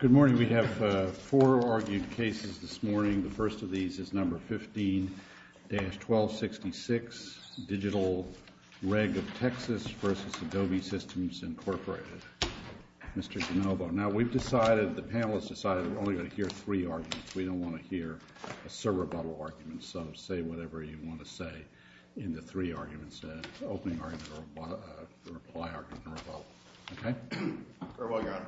Good morning. We have four argued cases this morning. The first of these is number 15-1266, Digital Reg of Texas v. Adobe Systems Incorporated, Mr. Genovo. Now, we've decided, the panelists decided, we're only going to hear three arguments. We don't want to hear a surrebuttal argument, so say whatever you want to say in the three arguments, as long as it's an opening argument or a reply argument or a follow-up. Okay? Very well, Your Honor.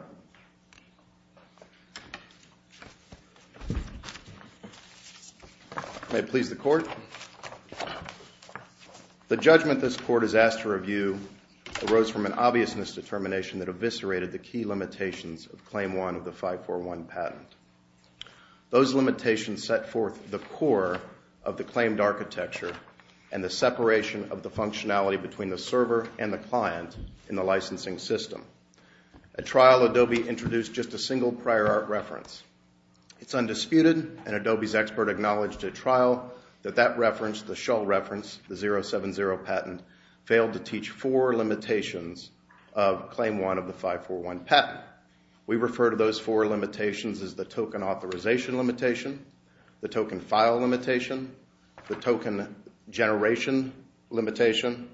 May it please the Court. The judgment this Court is asked to review arose from an obviousness determination that eviscerated the key limitations of Claim 1 of the 541 patent. Those limitations set forth the core of the claimed architecture and the separation of the functionality between the server and the client in the licensing system. At trial, Adobe introduced just a single prior art reference. It's undisputed, and Adobe's expert acknowledged at trial that that reference, the Shull reference, the 070 patent, failed to teach four limitations of Claim 1 of the 541 patent. We refer to those four limitations as the token authorization limitation, the token file limitation, the token generation limitation,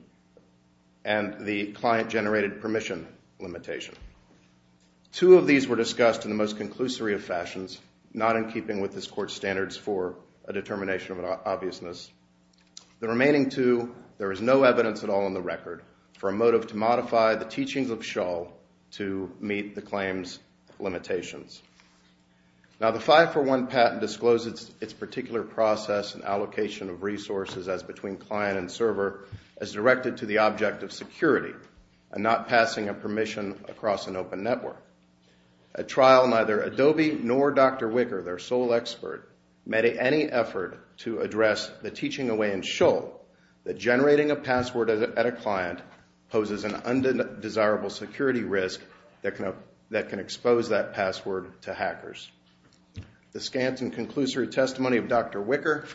and the client-generated permission limitation. Two of these were discussed in the most conclusory of fashions, not in keeping with this Court's standards for a determination of an obviousness. The remaining two, there is no evidence at all in the record for a motive to modify the teachings of Shull to meet the claim's limitations. Now, the 541 patent discloses its particular process and allocation of resources as between client and server as directed to the object of security and not passing a permission across an open network. At trial, neither Adobe nor Dr. Wicker, their sole expert, made any effort to address the teaching away in Shull that generating a password at a client poses an undesirable security risk that can expose that password to hackers. The scant and conclusory testimony of Dr. Wicker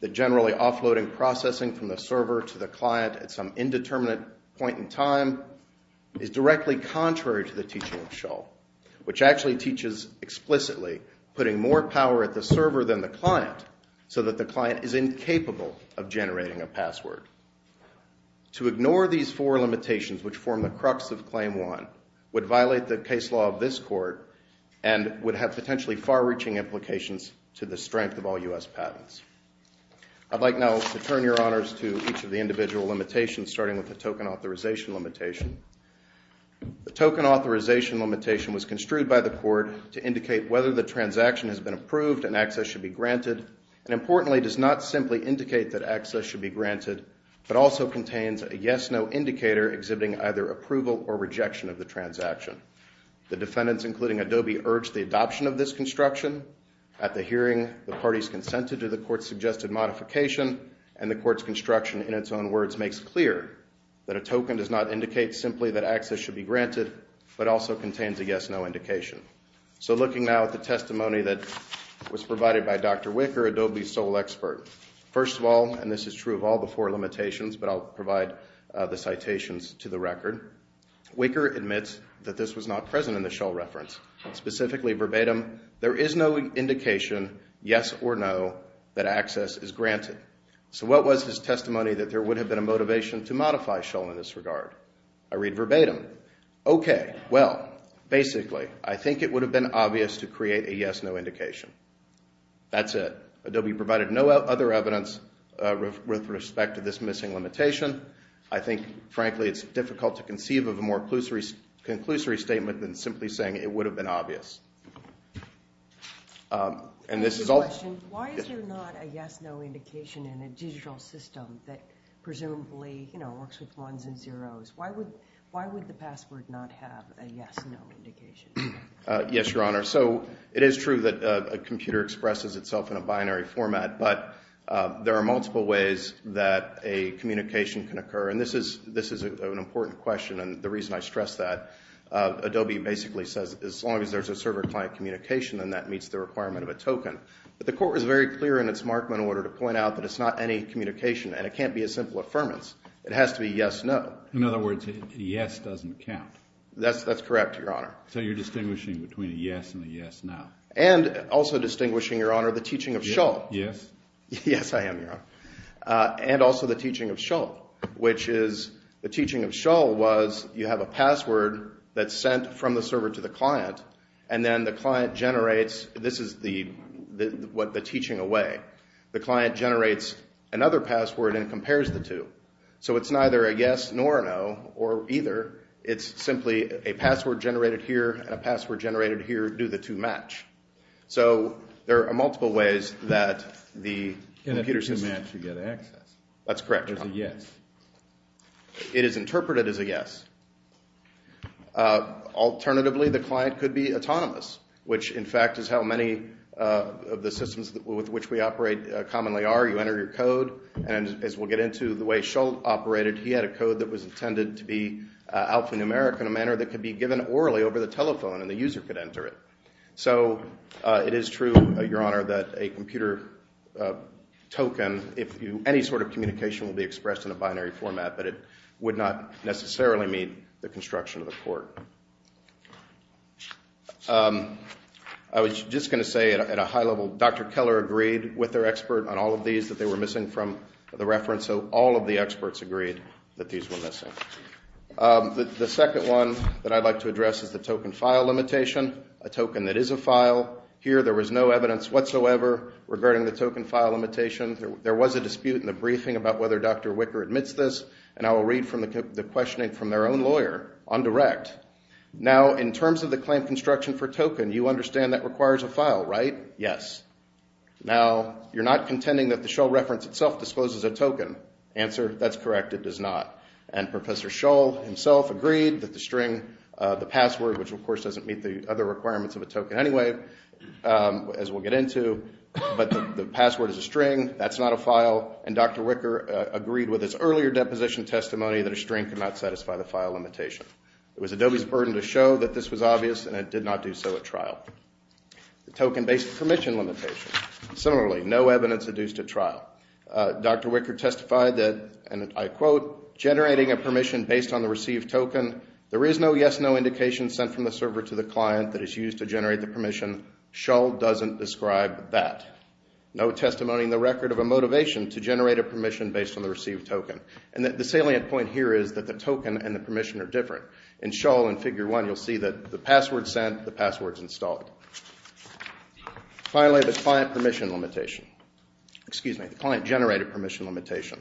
that generally offloading processing from the server to the client at some indeterminate point in time is directly contrary to the teaching of Shull, which actually teaches explicitly putting more power at the server than the client so that the client is incapable of generating a password. To ignore these four limitations, which form the crux of Claim 1, would violate the case law of this Court and would have potentially far-reaching implications to the strength of all U.S. patents. I'd like now to turn your honors to each of the individual limitations, starting with the token authorization limitation. The token authorization limitation was construed by the Court to indicate whether the transaction has been approved and access should be granted and, importantly, does not simply indicate that access should be granted, but also contains a yes-no indicator exhibiting either approval or rejection of the transaction. The defendants, including Adobe, urged the adoption of this construction. At the hearing, the parties consented to the Court's suggested modification, and the Court's construction in its own words makes clear that a token does not indicate simply that access should be granted, but also contains a yes-no indication. So looking now at the testimony that was provided by Dr. Wicker, Adobe's sole expert, first of all, and this is true of all the four limitations, but I'll provide the citations to the record, Wicker admits that this was not present in the Shull reference, specifically verbatim, there is no indication, yes or no, that access is granted. So what was his testimony that there would have been a motivation to modify Shull in this regard? I read verbatim, okay, well, basically, I think it would have been obvious to create a yes-no indication. That's it. Adobe provided no other evidence with respect to this missing limitation. I think, frankly, it's difficult to conceive of a more conclusory statement than simply saying it would have been obvious. And this is all… Why is there not a yes-no indication in a digital system that presumably, you know, works with ones and zeros? Why would the password not have a yes-no indication? Yes, Your Honor, so it is true that a computer expresses itself in a binary format, but there are multiple ways that a communication can occur, and this is an important question, and the reason I stress that, Adobe basically says as long as there's a server-client communication, then that meets the requirement of a token. But the Court was very clear in its Markman order to point out that it's not any communication, and it can't be a simple affirmance. It has to be yes-no. In other words, yes doesn't count. That's correct, Your Honor. So you're distinguishing between a yes and a yes-no. And also distinguishing, Your Honor, the teaching of Shull. Yes? Yes, I am, Your Honor. And also the teaching of Shull, which is… The teaching of Shull was you have a password that's sent from the server to the client, and then the client generates… This is the teaching away. The client generates another password and compares the two. So it's neither a yes nor an oh, or either. It's simply a password generated here and a password generated here do the two match. So there are multiple ways that the computer system… And if they match, you get access. That's correct, Your Honor. There's a yes. It is interpreted as a yes. Alternatively, the client could be autonomous, which, in fact, is how many of the systems with which we operate commonly are. You enter your code. And as we'll get into, the way Shull operated, he had a code that was intended to be alphanumeric in a manner that could be given orally over the telephone, and the user could enter it. So it is true, Your Honor, that a computer token, any sort of communication will be expressed in a binary format, but it would not necessarily meet the construction of a court. I was just going to say at a high level, Dr. Keller agreed with their expert on all of these that they were missing from the reference. So all of the experts agreed that these were missing. The second one that I'd like to address is the token file limitation, a token that is a file. Here there was no evidence whatsoever regarding the token file limitation. There was a dispute in the briefing about whether Dr. Wicker admits this. And I will read the questioning from their own lawyer on direct. Now, in terms of the claim construction for token, you understand that requires a file, right? Yes. Now, you're not contending that the Shull reference itself discloses a token. Answer, that's correct. It does not. And Professor Shull himself agreed that the string, the password, which, of course, doesn't meet the other requirements of a token anyway, as we'll get into, but the password is a string. That's not a file. And Dr. Wicker agreed with his earlier deposition testimony that a string could not satisfy the file limitation. It was Adobe's burden to show that this was obvious, and it did not do so at trial. The token-based permission limitation. Similarly, no evidence adduced at trial. Dr. Wicker testified that, and I quote, generating a permission based on the received token, there is no yes-no indication sent from the server to the client that is used to generate the permission. Shull doesn't describe that. No testimony in the record of a motivation to generate a permission based on the received token. And the salient point here is that the token and the permission are different. In Shull in Figure 1, you'll see that the password's sent, the password's installed. Finally, the client permission limitation. Excuse me, the client-generated permission limitation.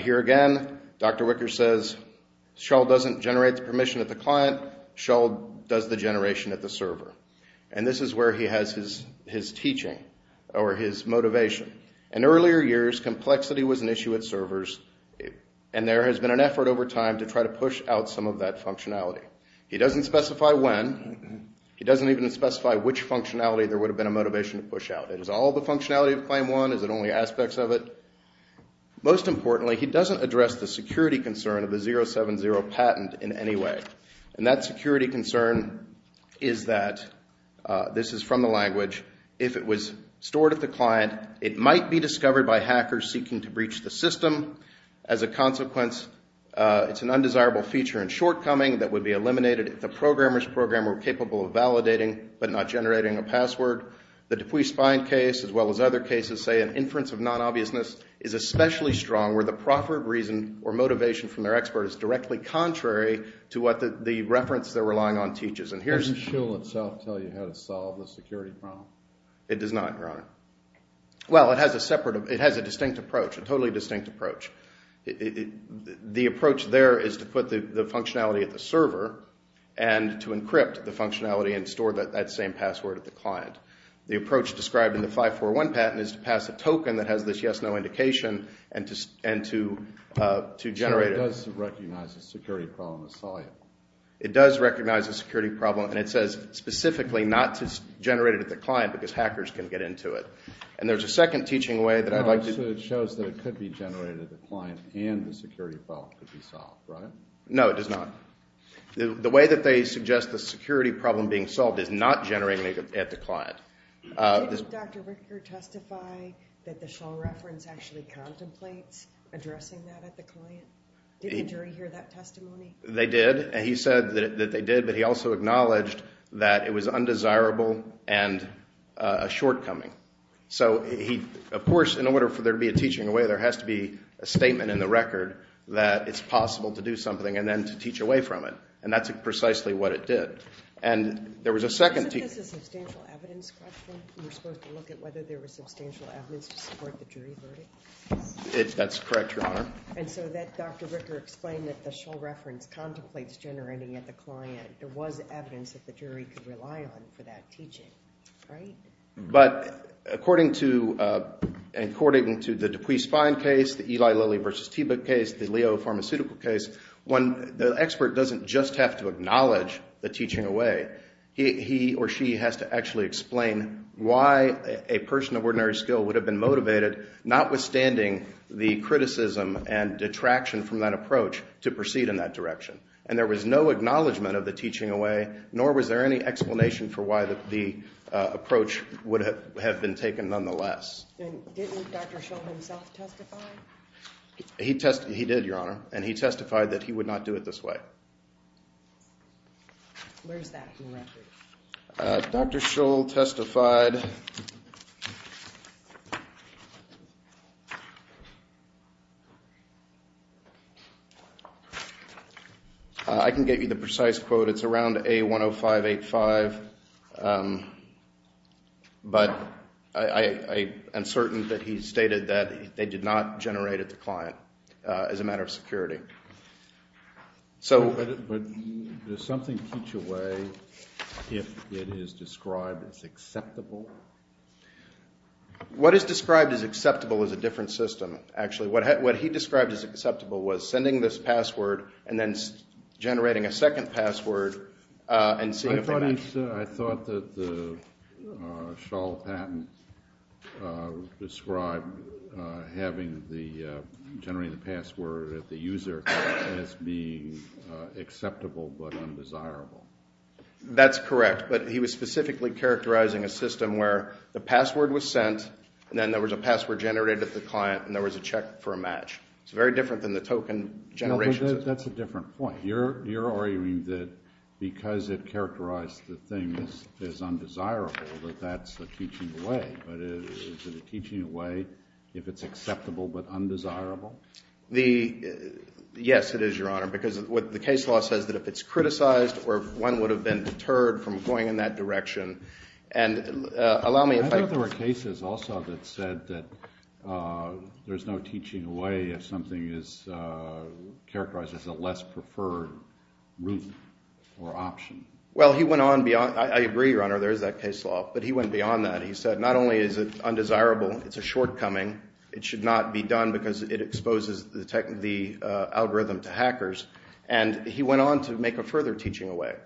Here again, Dr. Wicker says Shull doesn't generate the permission at the client. Shull does the generation at the server. And this is where he has his teaching or his motivation. In earlier years, complexity was an issue at servers, and there has been an effort over time to try to push out some of that functionality. He doesn't specify when. He doesn't even specify which functionality there would have been a motivation to push out. Is it all the functionality of Claim 1? Is it only aspects of it? Most importantly, he doesn't address the security concern of the 070 patent in any way. And that security concern is that, this is from the language, if it was stored at the client, it might be discovered by hackers seeking to breach the system. As a consequence, it's an undesirable feature and shortcoming that would be eliminated if the programmer's program were capable of validating but not generating a password. The Dupuis-Spine case, as well as other cases, say an inference of non-obviousness, is especially strong where the proper reason or motivation from their expert is directly contrary to what the reference they're relying on teaches. Does the shield itself tell you how to solve the security problem? It does not, Your Honor. Well, it has a distinct approach, a totally distinct approach. The approach there is to put the functionality at the server and to encrypt the functionality and store that same password at the client. The approach described in the 541 patent is to pass a token that has this yes-no indication and to generate it. So it does recognize the security problem and solve it? It does recognize the security problem and it says specifically not to generate it at the client because hackers can get into it. And there's a second teaching way that I'd like to... So it shows that it could be generated at the client and the security problem could be solved, right? No, it does not. The way that they suggest the security problem being solved is not generating it at the client. Did Dr. Ricker testify that the shell reference actually contemplates addressing that at the client? Did the jury hear that testimony? They did. He said that they did, but he also acknowledged that it was undesirable and a shortcoming. So he, of course, in order for there to be a teaching away, there has to be a statement in the record that it's possible to do something and then to teach away from it, and that's precisely what it did. Isn't this a substantial evidence question? We're supposed to look at whether there was substantial evidence to support the jury verdict? That's correct, Your Honor. And so that Dr. Ricker explained that the shell reference contemplates generating at the client. There was evidence that the jury could rely on for that teaching, right? But according to the Dupuis-Spine case, the Eli Lilly v. Teba case, the Leo Pharmaceutical case, when the expert doesn't just have to acknowledge the teaching away, he or she has to actually explain why a person of ordinary skill would have been motivated, notwithstanding the criticism and detraction from that approach, to proceed in that direction. And there was no acknowledgment of the teaching away, nor was there any explanation for why the approach would have been taken nonetheless. And didn't Dr. Shull himself testify? He did, Your Honor, and he testified that he would not do it this way. Where is that in the record? Dr. Shull testified. I can get you the precise quote. It's around A10585. But I am certain that he stated that they did not generate at the client as a matter of security. But does something teach away if it is described as acceptable? What is described as acceptable is a different system, actually. What he described as acceptable was sending this password and then generating a second password and seeing if they match. I thought that the Shull patent described generating the password at the user as being acceptable but undesirable. That's correct. But he was specifically characterizing a system where the password was sent, and then there was a password generated at the client, and there was a check for a match. It's very different than the token generation system. That's a different point. You're arguing that because it characterized the thing as undesirable, that that's a teaching away. But is it a teaching away if it's acceptable but undesirable? Yes, it is, Your Honor, because the case law says that if it's criticized or if one would have been deterred from going in that direction. And allow me if I could just— There's no teaching away if something is characterized as a less preferred route or option. Well, he went on beyond—I agree, Your Honor, there is that case law. But he went beyond that. He said not only is it undesirable, it's a shortcoming. It should not be done because it exposes the algorithm to hackers. And he went on to make a further teaching away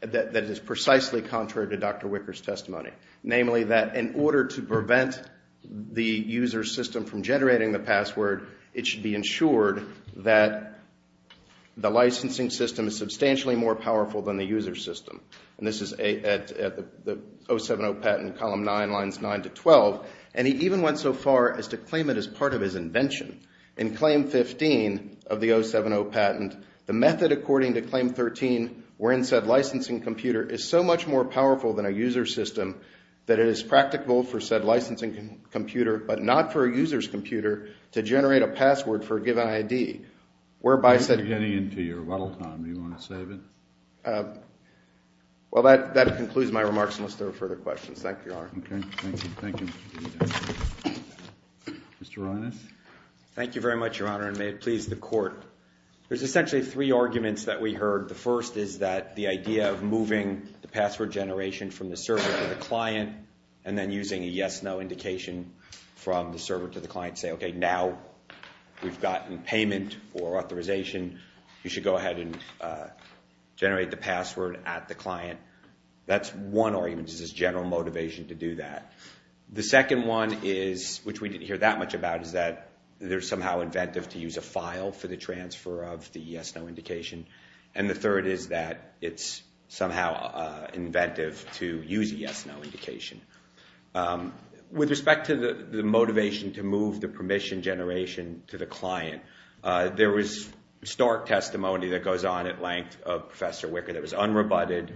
that is precisely contrary to Dr. Wicker's testimony, namely that in order to prevent the user system from generating the password, it should be ensured that the licensing system is substantially more powerful than the user system. And this is at the 070 patent, column 9, lines 9 to 12. And he even went so far as to claim it as part of his invention. In claim 15 of the 070 patent, the method according to claim 13 wherein said licensing computer is so much more powerful than a user system that it is practical for said licensing computer but not for a user's computer to generate a password for a given ID, whereby said— You're getting into your rattle time. Do you want to save it? Well, that concludes my remarks unless there are further questions. Thank you, Your Honor. Okay. Thank you. Thank you. Mr. Reines? Thank you very much, Your Honor, and may it please the Court. There's essentially three arguments that we heard. The first is that the idea of moving the password generation from the server to the client and then using a yes-no indication from the server to the client to say, okay, now we've gotten payment or authorization. You should go ahead and generate the password at the client. That's one argument. This is general motivation to do that. The second one is, which we didn't hear that much about, is that they're somehow inventive to use a file for the transfer of the yes-no indication. And the third is that it's somehow inventive to use a yes-no indication. With respect to the motivation to move the permission generation to the client, there was stark testimony that goes on at length of Professor Wicker that was unrebutted,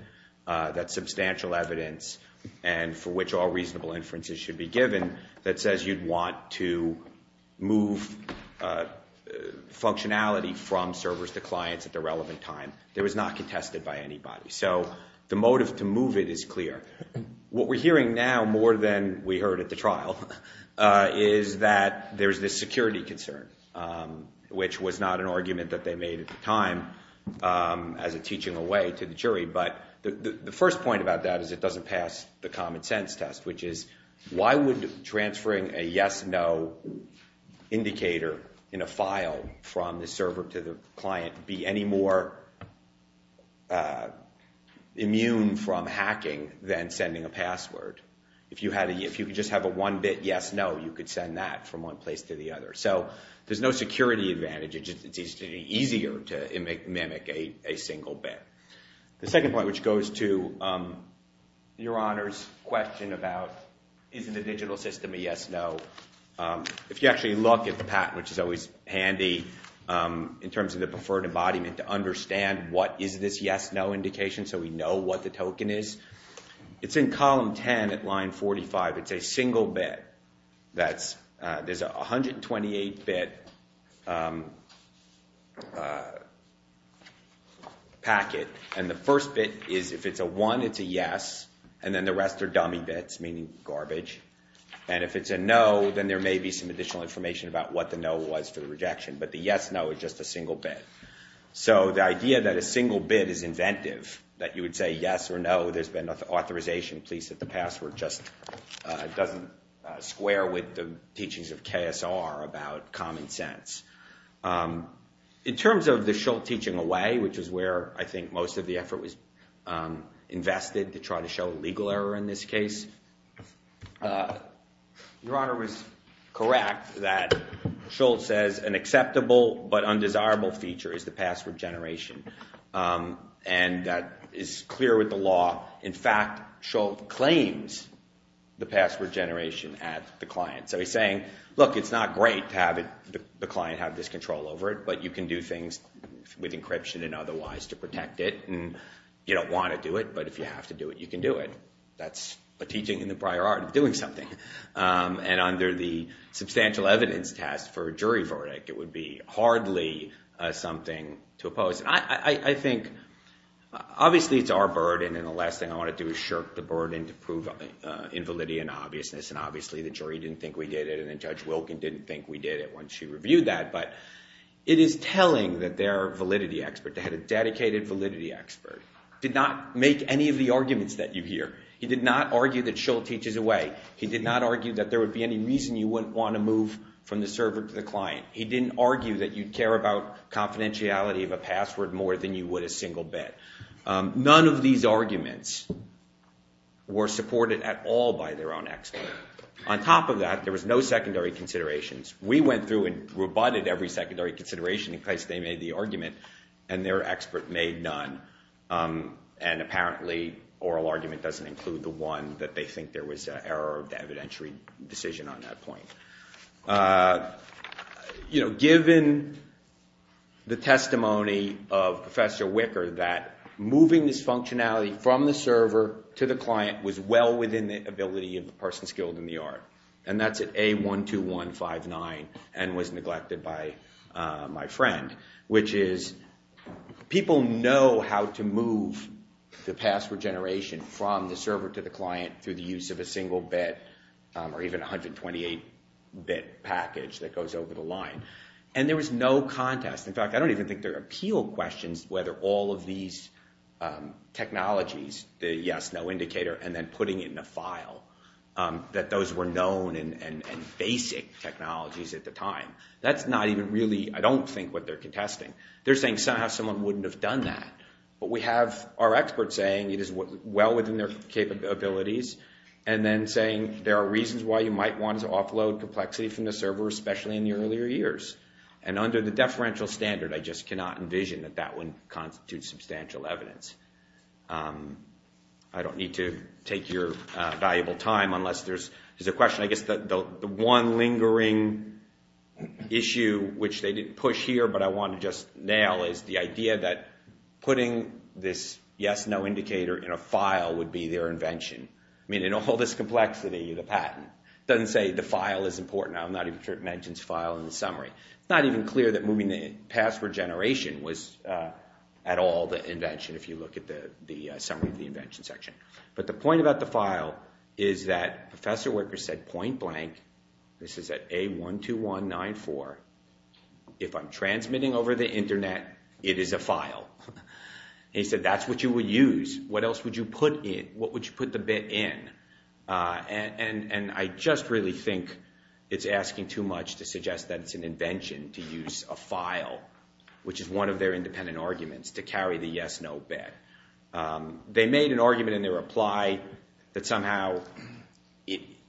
that's substantial evidence, and for which all reasonable inferences should be given, that says you'd want to move functionality from servers to clients at the relevant time. It was not contested by anybody. So the motive to move it is clear. What we're hearing now more than we heard at the trial is that there's this security concern, which was not an argument that they made at the time as a teaching away to the jury. But the first point about that is it doesn't pass the common sense test, which is why would transferring a yes-no indicator in a file from the server to the client be any more immune from hacking than sending a password? If you could just have a one-bit yes-no, you could send that from one place to the other. So there's no security advantage. It's easier to mimic a single bit. The second point, which goes to Your Honor's question about is the digital system a yes-no, if you actually look at the patent, which is always handy in terms of the preferred embodiment, to understand what is this yes-no indication so we know what the token is, it's in column 10 at line 45. It's a single bit. There's a 128-bit packet, and the first bit is if it's a one, it's a yes, and then the rest are dummy bits, meaning garbage. And if it's a no, then there may be some additional information about what the no was for the rejection. But the yes-no is just a single bit. So the idea that a single bit is inventive, that you would say yes or no, there's been authorization, please set the password, just doesn't square with the teachings of KSR about common sense. In terms of the Schultz teaching away, which is where I think most of the effort was invested to try to show a legal error in this case, Your Honor was correct that Schultz says an acceptable but undesirable feature is the password generation, and that is clear with the law. In fact, Schultz claims the password generation at the client. So he's saying, look, it's not great to have the client have this control over it, but you can do things with encryption and otherwise to protect it, and you don't want to do it, but if you have to do it, you can do it. That's a teaching in the prior art of doing something. And under the substantial evidence test for a jury verdict, it would be hardly something to oppose. I think obviously it's our burden, and the last thing I want to do is shirk the burden to prove invalidity and obviousness, and obviously the jury didn't think we did it, and Judge Wilkin didn't think we did it when she reviewed that, but it is telling that they're a validity expert. They had a dedicated validity expert, did not make any of the arguments that you hear. He did not argue that Schultz teaches away. He did not argue that there would be any reason you wouldn't want to move from the server to the client. He didn't argue that you'd care about confidentiality of a password more than you would a single bet. None of these arguments were supported at all by their own expert. On top of that, there was no secondary considerations. We went through and rebutted every secondary consideration in case they made the argument, and their expert made none, and apparently oral argument doesn't include the one that they think there was an error of the evidentiary decision on that point. Given the testimony of Professor Wicker that moving this functionality from the server to the client was well within the ability of the person skilled in the art, and that's at A12159 and was neglected by my friend, which is people know how to move the password generation from the server to the client through the use of a single bet or even a 128-bit package that goes over the line, and there was no contest. In fact, I don't even think there are appeal questions whether all of these technologies, the yes, no indicator, and then putting it in a file, that those were known and basic technologies at the time. That's not even really, I don't think, what they're contesting. They're saying somehow someone wouldn't have done that, but we have our experts saying it is well within their capabilities, and then saying there are reasons why you might want to offload complexity from the server, especially in the earlier years, and under the deferential standard, I just cannot envision that that would constitute substantial evidence. I don't need to take your valuable time unless there's a question. I guess the one lingering issue, which they didn't push here, but I want to just nail is the idea that putting this yes, no indicator in a file would be their invention. I mean, in all this complexity, the patent, it doesn't say the file is important. I'm not even sure it mentions file in the summary. It's not even clear that moving the password generation was at all the invention if you look at the summary of the invention section. But the point about the file is that Professor Wicker said point blank, this is at A12194, if I'm transmitting over the Internet, it is a file. He said that's what you would use. What else would you put in? What would you put the bit in? And I just really think it's asking too much to suggest that it's an invention to use a file, which is one of their independent arguments, to carry the yes, no bit. They made an argument in their reply that somehow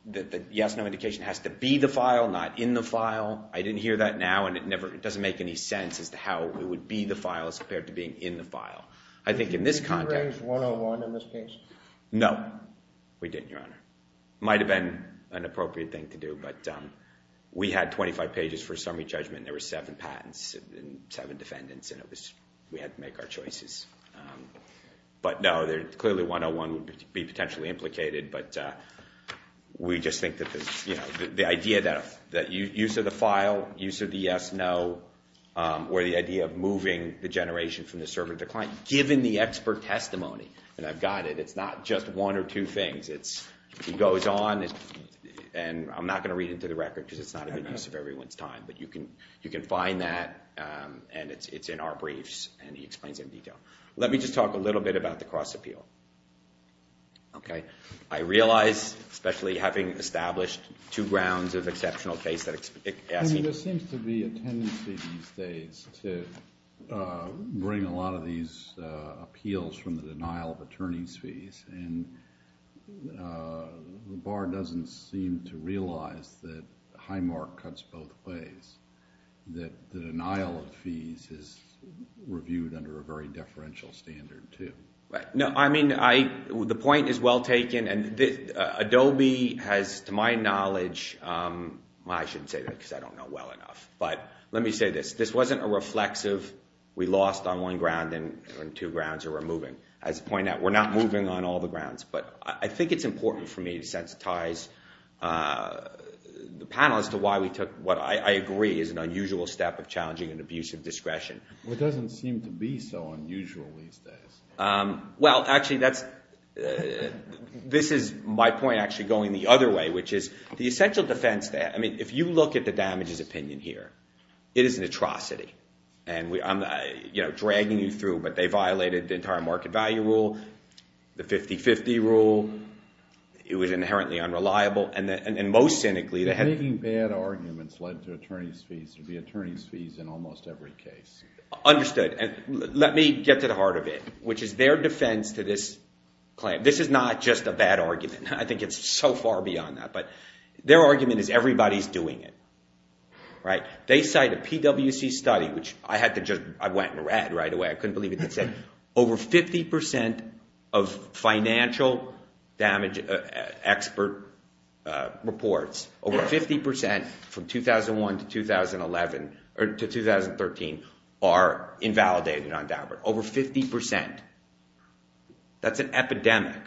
the yes, no indication has to be the file, not in the file. I didn't hear that now, and it doesn't make any sense as to how it would be the file as compared to being in the file. I think in this context. You didn't raise 101 on this case? No, we didn't, Your Honor. It might have been an appropriate thing to do, but we had 25 pages for summary judgment, and there were seven patents and seven defendants, and we had to make our choices. But no, clearly 101 would be potentially implicated, but we just think that the idea that use of the file, use of the yes, no, or the idea of moving the generation from the server to the client, given the expert testimony, and I've got it, it's not just one or two things. It goes on, and I'm not going to read into the record because it's not in the interest of everyone's time, but you can find that, and it's in our briefs, and he explains it in detail. Let me just talk a little bit about the cross-appeal. I realize, especially having established two grounds of exceptional case that I see. There seems to be a tendency these days to bring a lot of these appeals from the denial of attorney's fees, and the bar doesn't seem to realize that Highmark cuts both ways, that the denial of fees is reviewed under a very deferential standard, too. No, I mean, the point is well taken, and Adobe has, to my knowledge, I shouldn't say that because I don't know well enough, but let me say this. This wasn't a reflexive, we lost on one ground and two grounds are removing. As a point out, we're not moving on all the grounds, but I think it's important for me to sensitize the panel as to why we took what I agree is an unusual step of challenging an abuse of discretion. It doesn't seem to be so unusual these days. Well, actually, this is my point actually going the other way, which is the essential defense. I mean, if you look at the damages opinion here, it is an atrocity, and I'm dragging you through, but they violated the entire market value rule, the 50-50 rule. It was inherently unreliable, and most cynically, they had— Making bad arguments led to attorney's fees. There would be attorney's fees in almost every case. Understood, and let me get to the heart of it, which is their defense to this claim. This is not just a bad argument. I think it's so far beyond that, but their argument is everybody's doing it. They cite a PWC study, which I had to just—I went and read right away. I couldn't believe it. It said over 50% of financial damage expert reports, over 50% from 2001 to 2013, are invalidated on DABRA. Over 50%. That's an epidemic,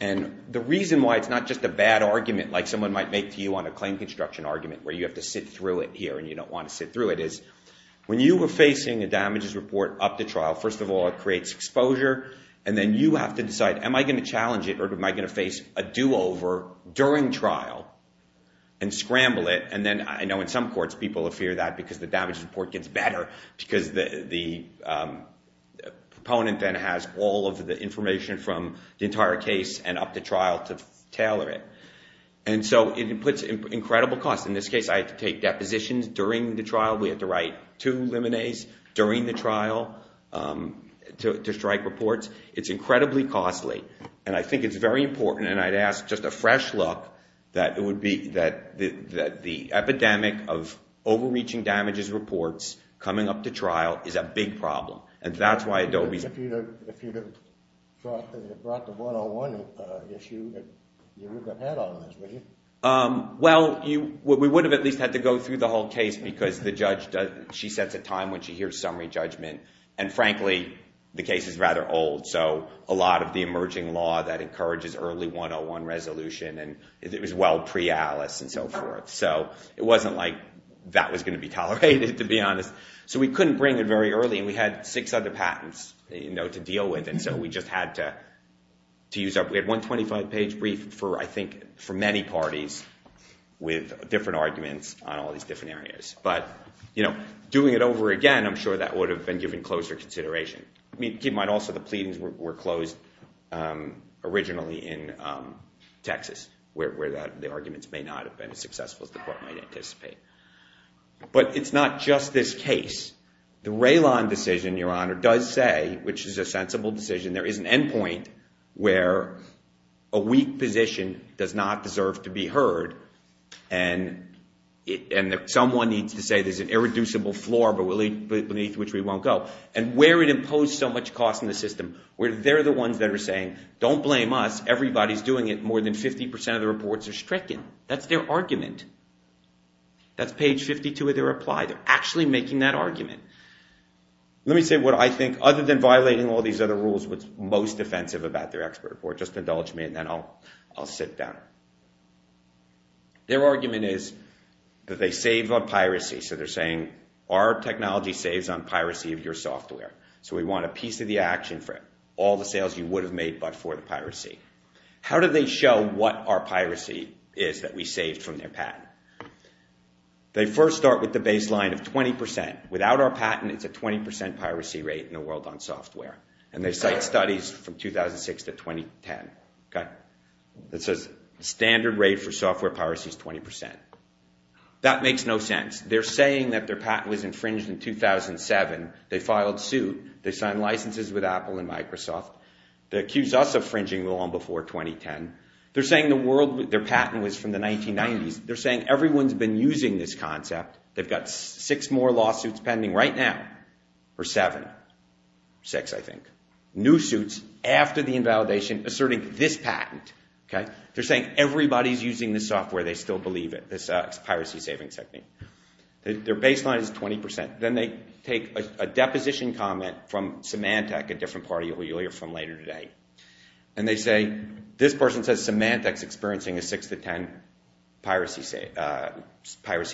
and the reason why it's not just a bad argument like someone might make to you on a claim construction argument where you have to sit through it here and you don't want to sit through it is when you were facing a damages report up to trial, first of all, it creates exposure, and then you have to decide, am I going to challenge it or am I going to face a do-over during trial and scramble it? And then I know in some courts, people fear that because the damages report gets better because the proponent then has all of the information from the entire case and up to trial to tailor it. And so it puts incredible costs. In this case, I had to take depositions during the trial. We had to write two liminees during the trial to strike reports. It's incredibly costly, and I think it's very important, and I'd ask just a fresh look, that the epidemic of overreaching damages reports coming up to trial is a big problem, and that's why Adobe's— If you'd have brought the 101 issue, you wouldn't have had all of this, would you? Well, we would have at least had to go through the whole case because the judge, she sets a time when she hears summary judgment, and frankly, the case is rather old, so a lot of the emerging law that encourages early 101 resolution, and it was well pre-Alice and so forth, so it wasn't like that was going to be tolerated, to be honest. So we couldn't bring it very early, and we had six other patents to deal with, and so we just had to use up—we had one 25-page brief for, I think, for many parties with different arguments on all these different areas. But doing it over again, I'm sure that would have been given closer consideration. Keep in mind also the pleadings were closed originally in Texas, where the arguments may not have been as successful as the court might anticipate. But it's not just this case. The Raylon decision, Your Honor, does say, which is a sensible decision, there is an endpoint where a weak position does not deserve to be heard, and someone needs to say there's an irreducible floor beneath which we won't go, and where it imposed so much cost on the system, where they're the ones that are saying, don't blame us, everybody's doing it, more than 50 percent of the reports are stricken. That's their argument. That's page 52 of their reply. They're actually making that argument. Let me say what I think, other than violating all these other rules, what's most offensive about their expert report. Just indulge me, and then I'll sit down. Their argument is that they save on piracy. So they're saying, our technology saves on piracy of your software. So we want a piece of the action for it. All the sales you would have made but for the piracy. How do they show what our piracy is that we saved from their patent? They first start with the baseline of 20 percent. Without our patent, it's a 20 percent piracy rate in the world on software. And they cite studies from 2006 to 2010. It says standard rate for software piracy is 20 percent. That makes no sense. They're saying that their patent was infringed in 2007. They filed suit. They signed licenses with Apple and Microsoft. They accuse us of infringing the law before 2010. They're saying their patent was from the 1990s. They're saying everyone's been using this concept. They've got six more lawsuits pending right now. Or seven. Six, I think. New suits after the invalidation asserting this patent. They're saying everybody's using this software. They still believe it, this piracy savings technique. Their baseline is 20 percent. Then they take a deposition comment from Symantec, a different party lawyer from later today. And they say this person says Symantec's experiencing a 6 to 10 piracy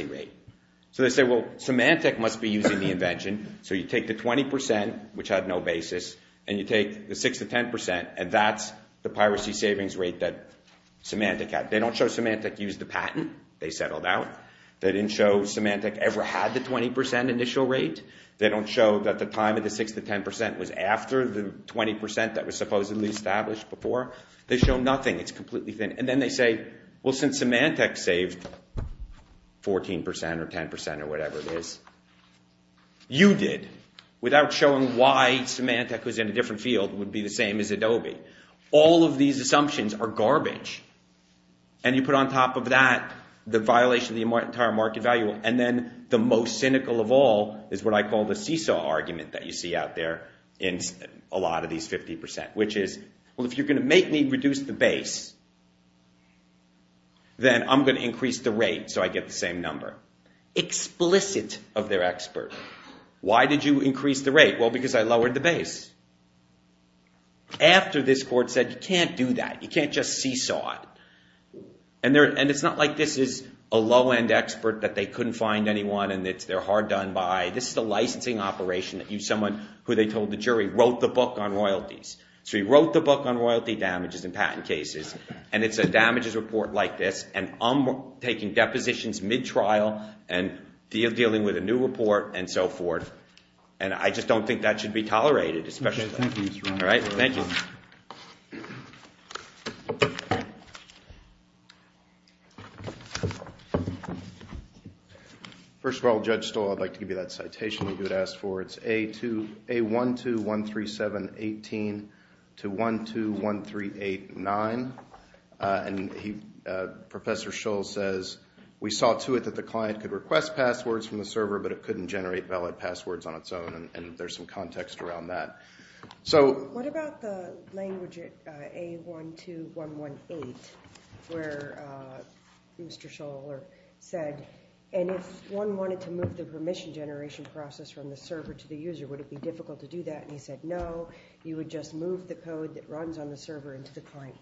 rate. So they say, well, Symantec must be using the invention. So you take the 20 percent, which had no basis, and you take the 6 to 10 percent, and that's the piracy savings rate that Symantec had. They don't show Symantec used the patent. They settled out. They didn't show Symantec ever had the 20 percent initial rate. They don't show that the time of the 6 to 10 percent was after the 20 percent that was supposedly established before. They show nothing. It's completely thin. And then they say, well, since Symantec saved 14 percent or 10 percent or whatever it is, you did without showing why Symantec was in a different field would be the same as Adobe. All of these assumptions are garbage. And you put on top of that the violation of the entire market value. And then the most cynical of all is what I call the seesaw argument that you see out there in a lot of these 50 percent, which is, well, if you're going to make me reduce the base, then I'm going to increase the rate so I get the same number. Explicit of their expert. Why did you increase the rate? Well, because I lowered the base. After this court said you can't do that. You can't just seesaw it. And it's not like this is a low-end expert that they couldn't find anyone and they're hard done by. This is a licensing operation that someone who they told the jury wrote the book on royalties. So he wrote the book on royalty damages and patent cases. And it's a damages report like this. And I'm taking depositions mid-trial and dealing with a new report and so forth. And I just don't think that should be tolerated, especially. All right. Thank you. First of all, Judge Stoll, I'd like to give you that citation that you had asked for. It's A1213718 to 121389. And Professor Schull says, we saw to it that the client could request passwords from the server, but it couldn't generate valid passwords on its own. And there's some context around that. What about the language A12118 where Mr. Schull said, and if one wanted to move the permission generation process from the server to the user, would it be difficult to do that? And he said, no, you would just move the code that runs on the server into the client.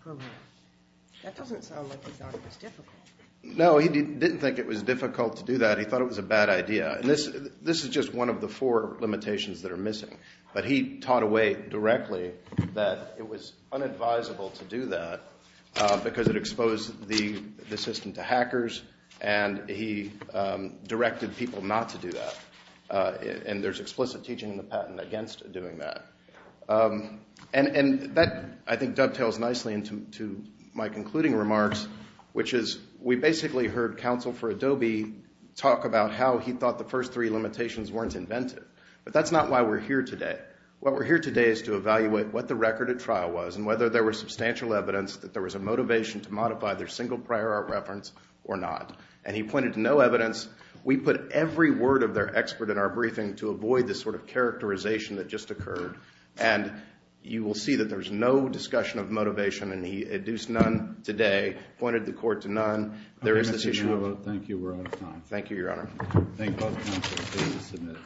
That doesn't sound like he thought it was difficult. No, he didn't think it was difficult to do that. He thought it was a bad idea. And this is just one of the four limitations that are missing. But he taught away directly that it was unadvisable to do that because it exposed the system to hackers, and he directed people not to do that. And there's explicit teaching in the patent against doing that. And that, I think, dovetails nicely into my concluding remarks, which is we basically heard Counsel for Adobe talk about how he thought the first three limitations weren't inventive. But that's not why we're here today. What we're here today is to evaluate what the record at trial was and whether there was substantial evidence that there was a motivation to modify their single prior art reference or not. And he pointed to no evidence. We put every word of their expert in our briefing to avoid this sort of characterization that just occurred. And you will see that there's no discussion of motivation, and he adduced none today, pointed the court to none. There is this issue. Thank you. We're out of time. Thank you, Your Honor. Thank both counsels. Please submit.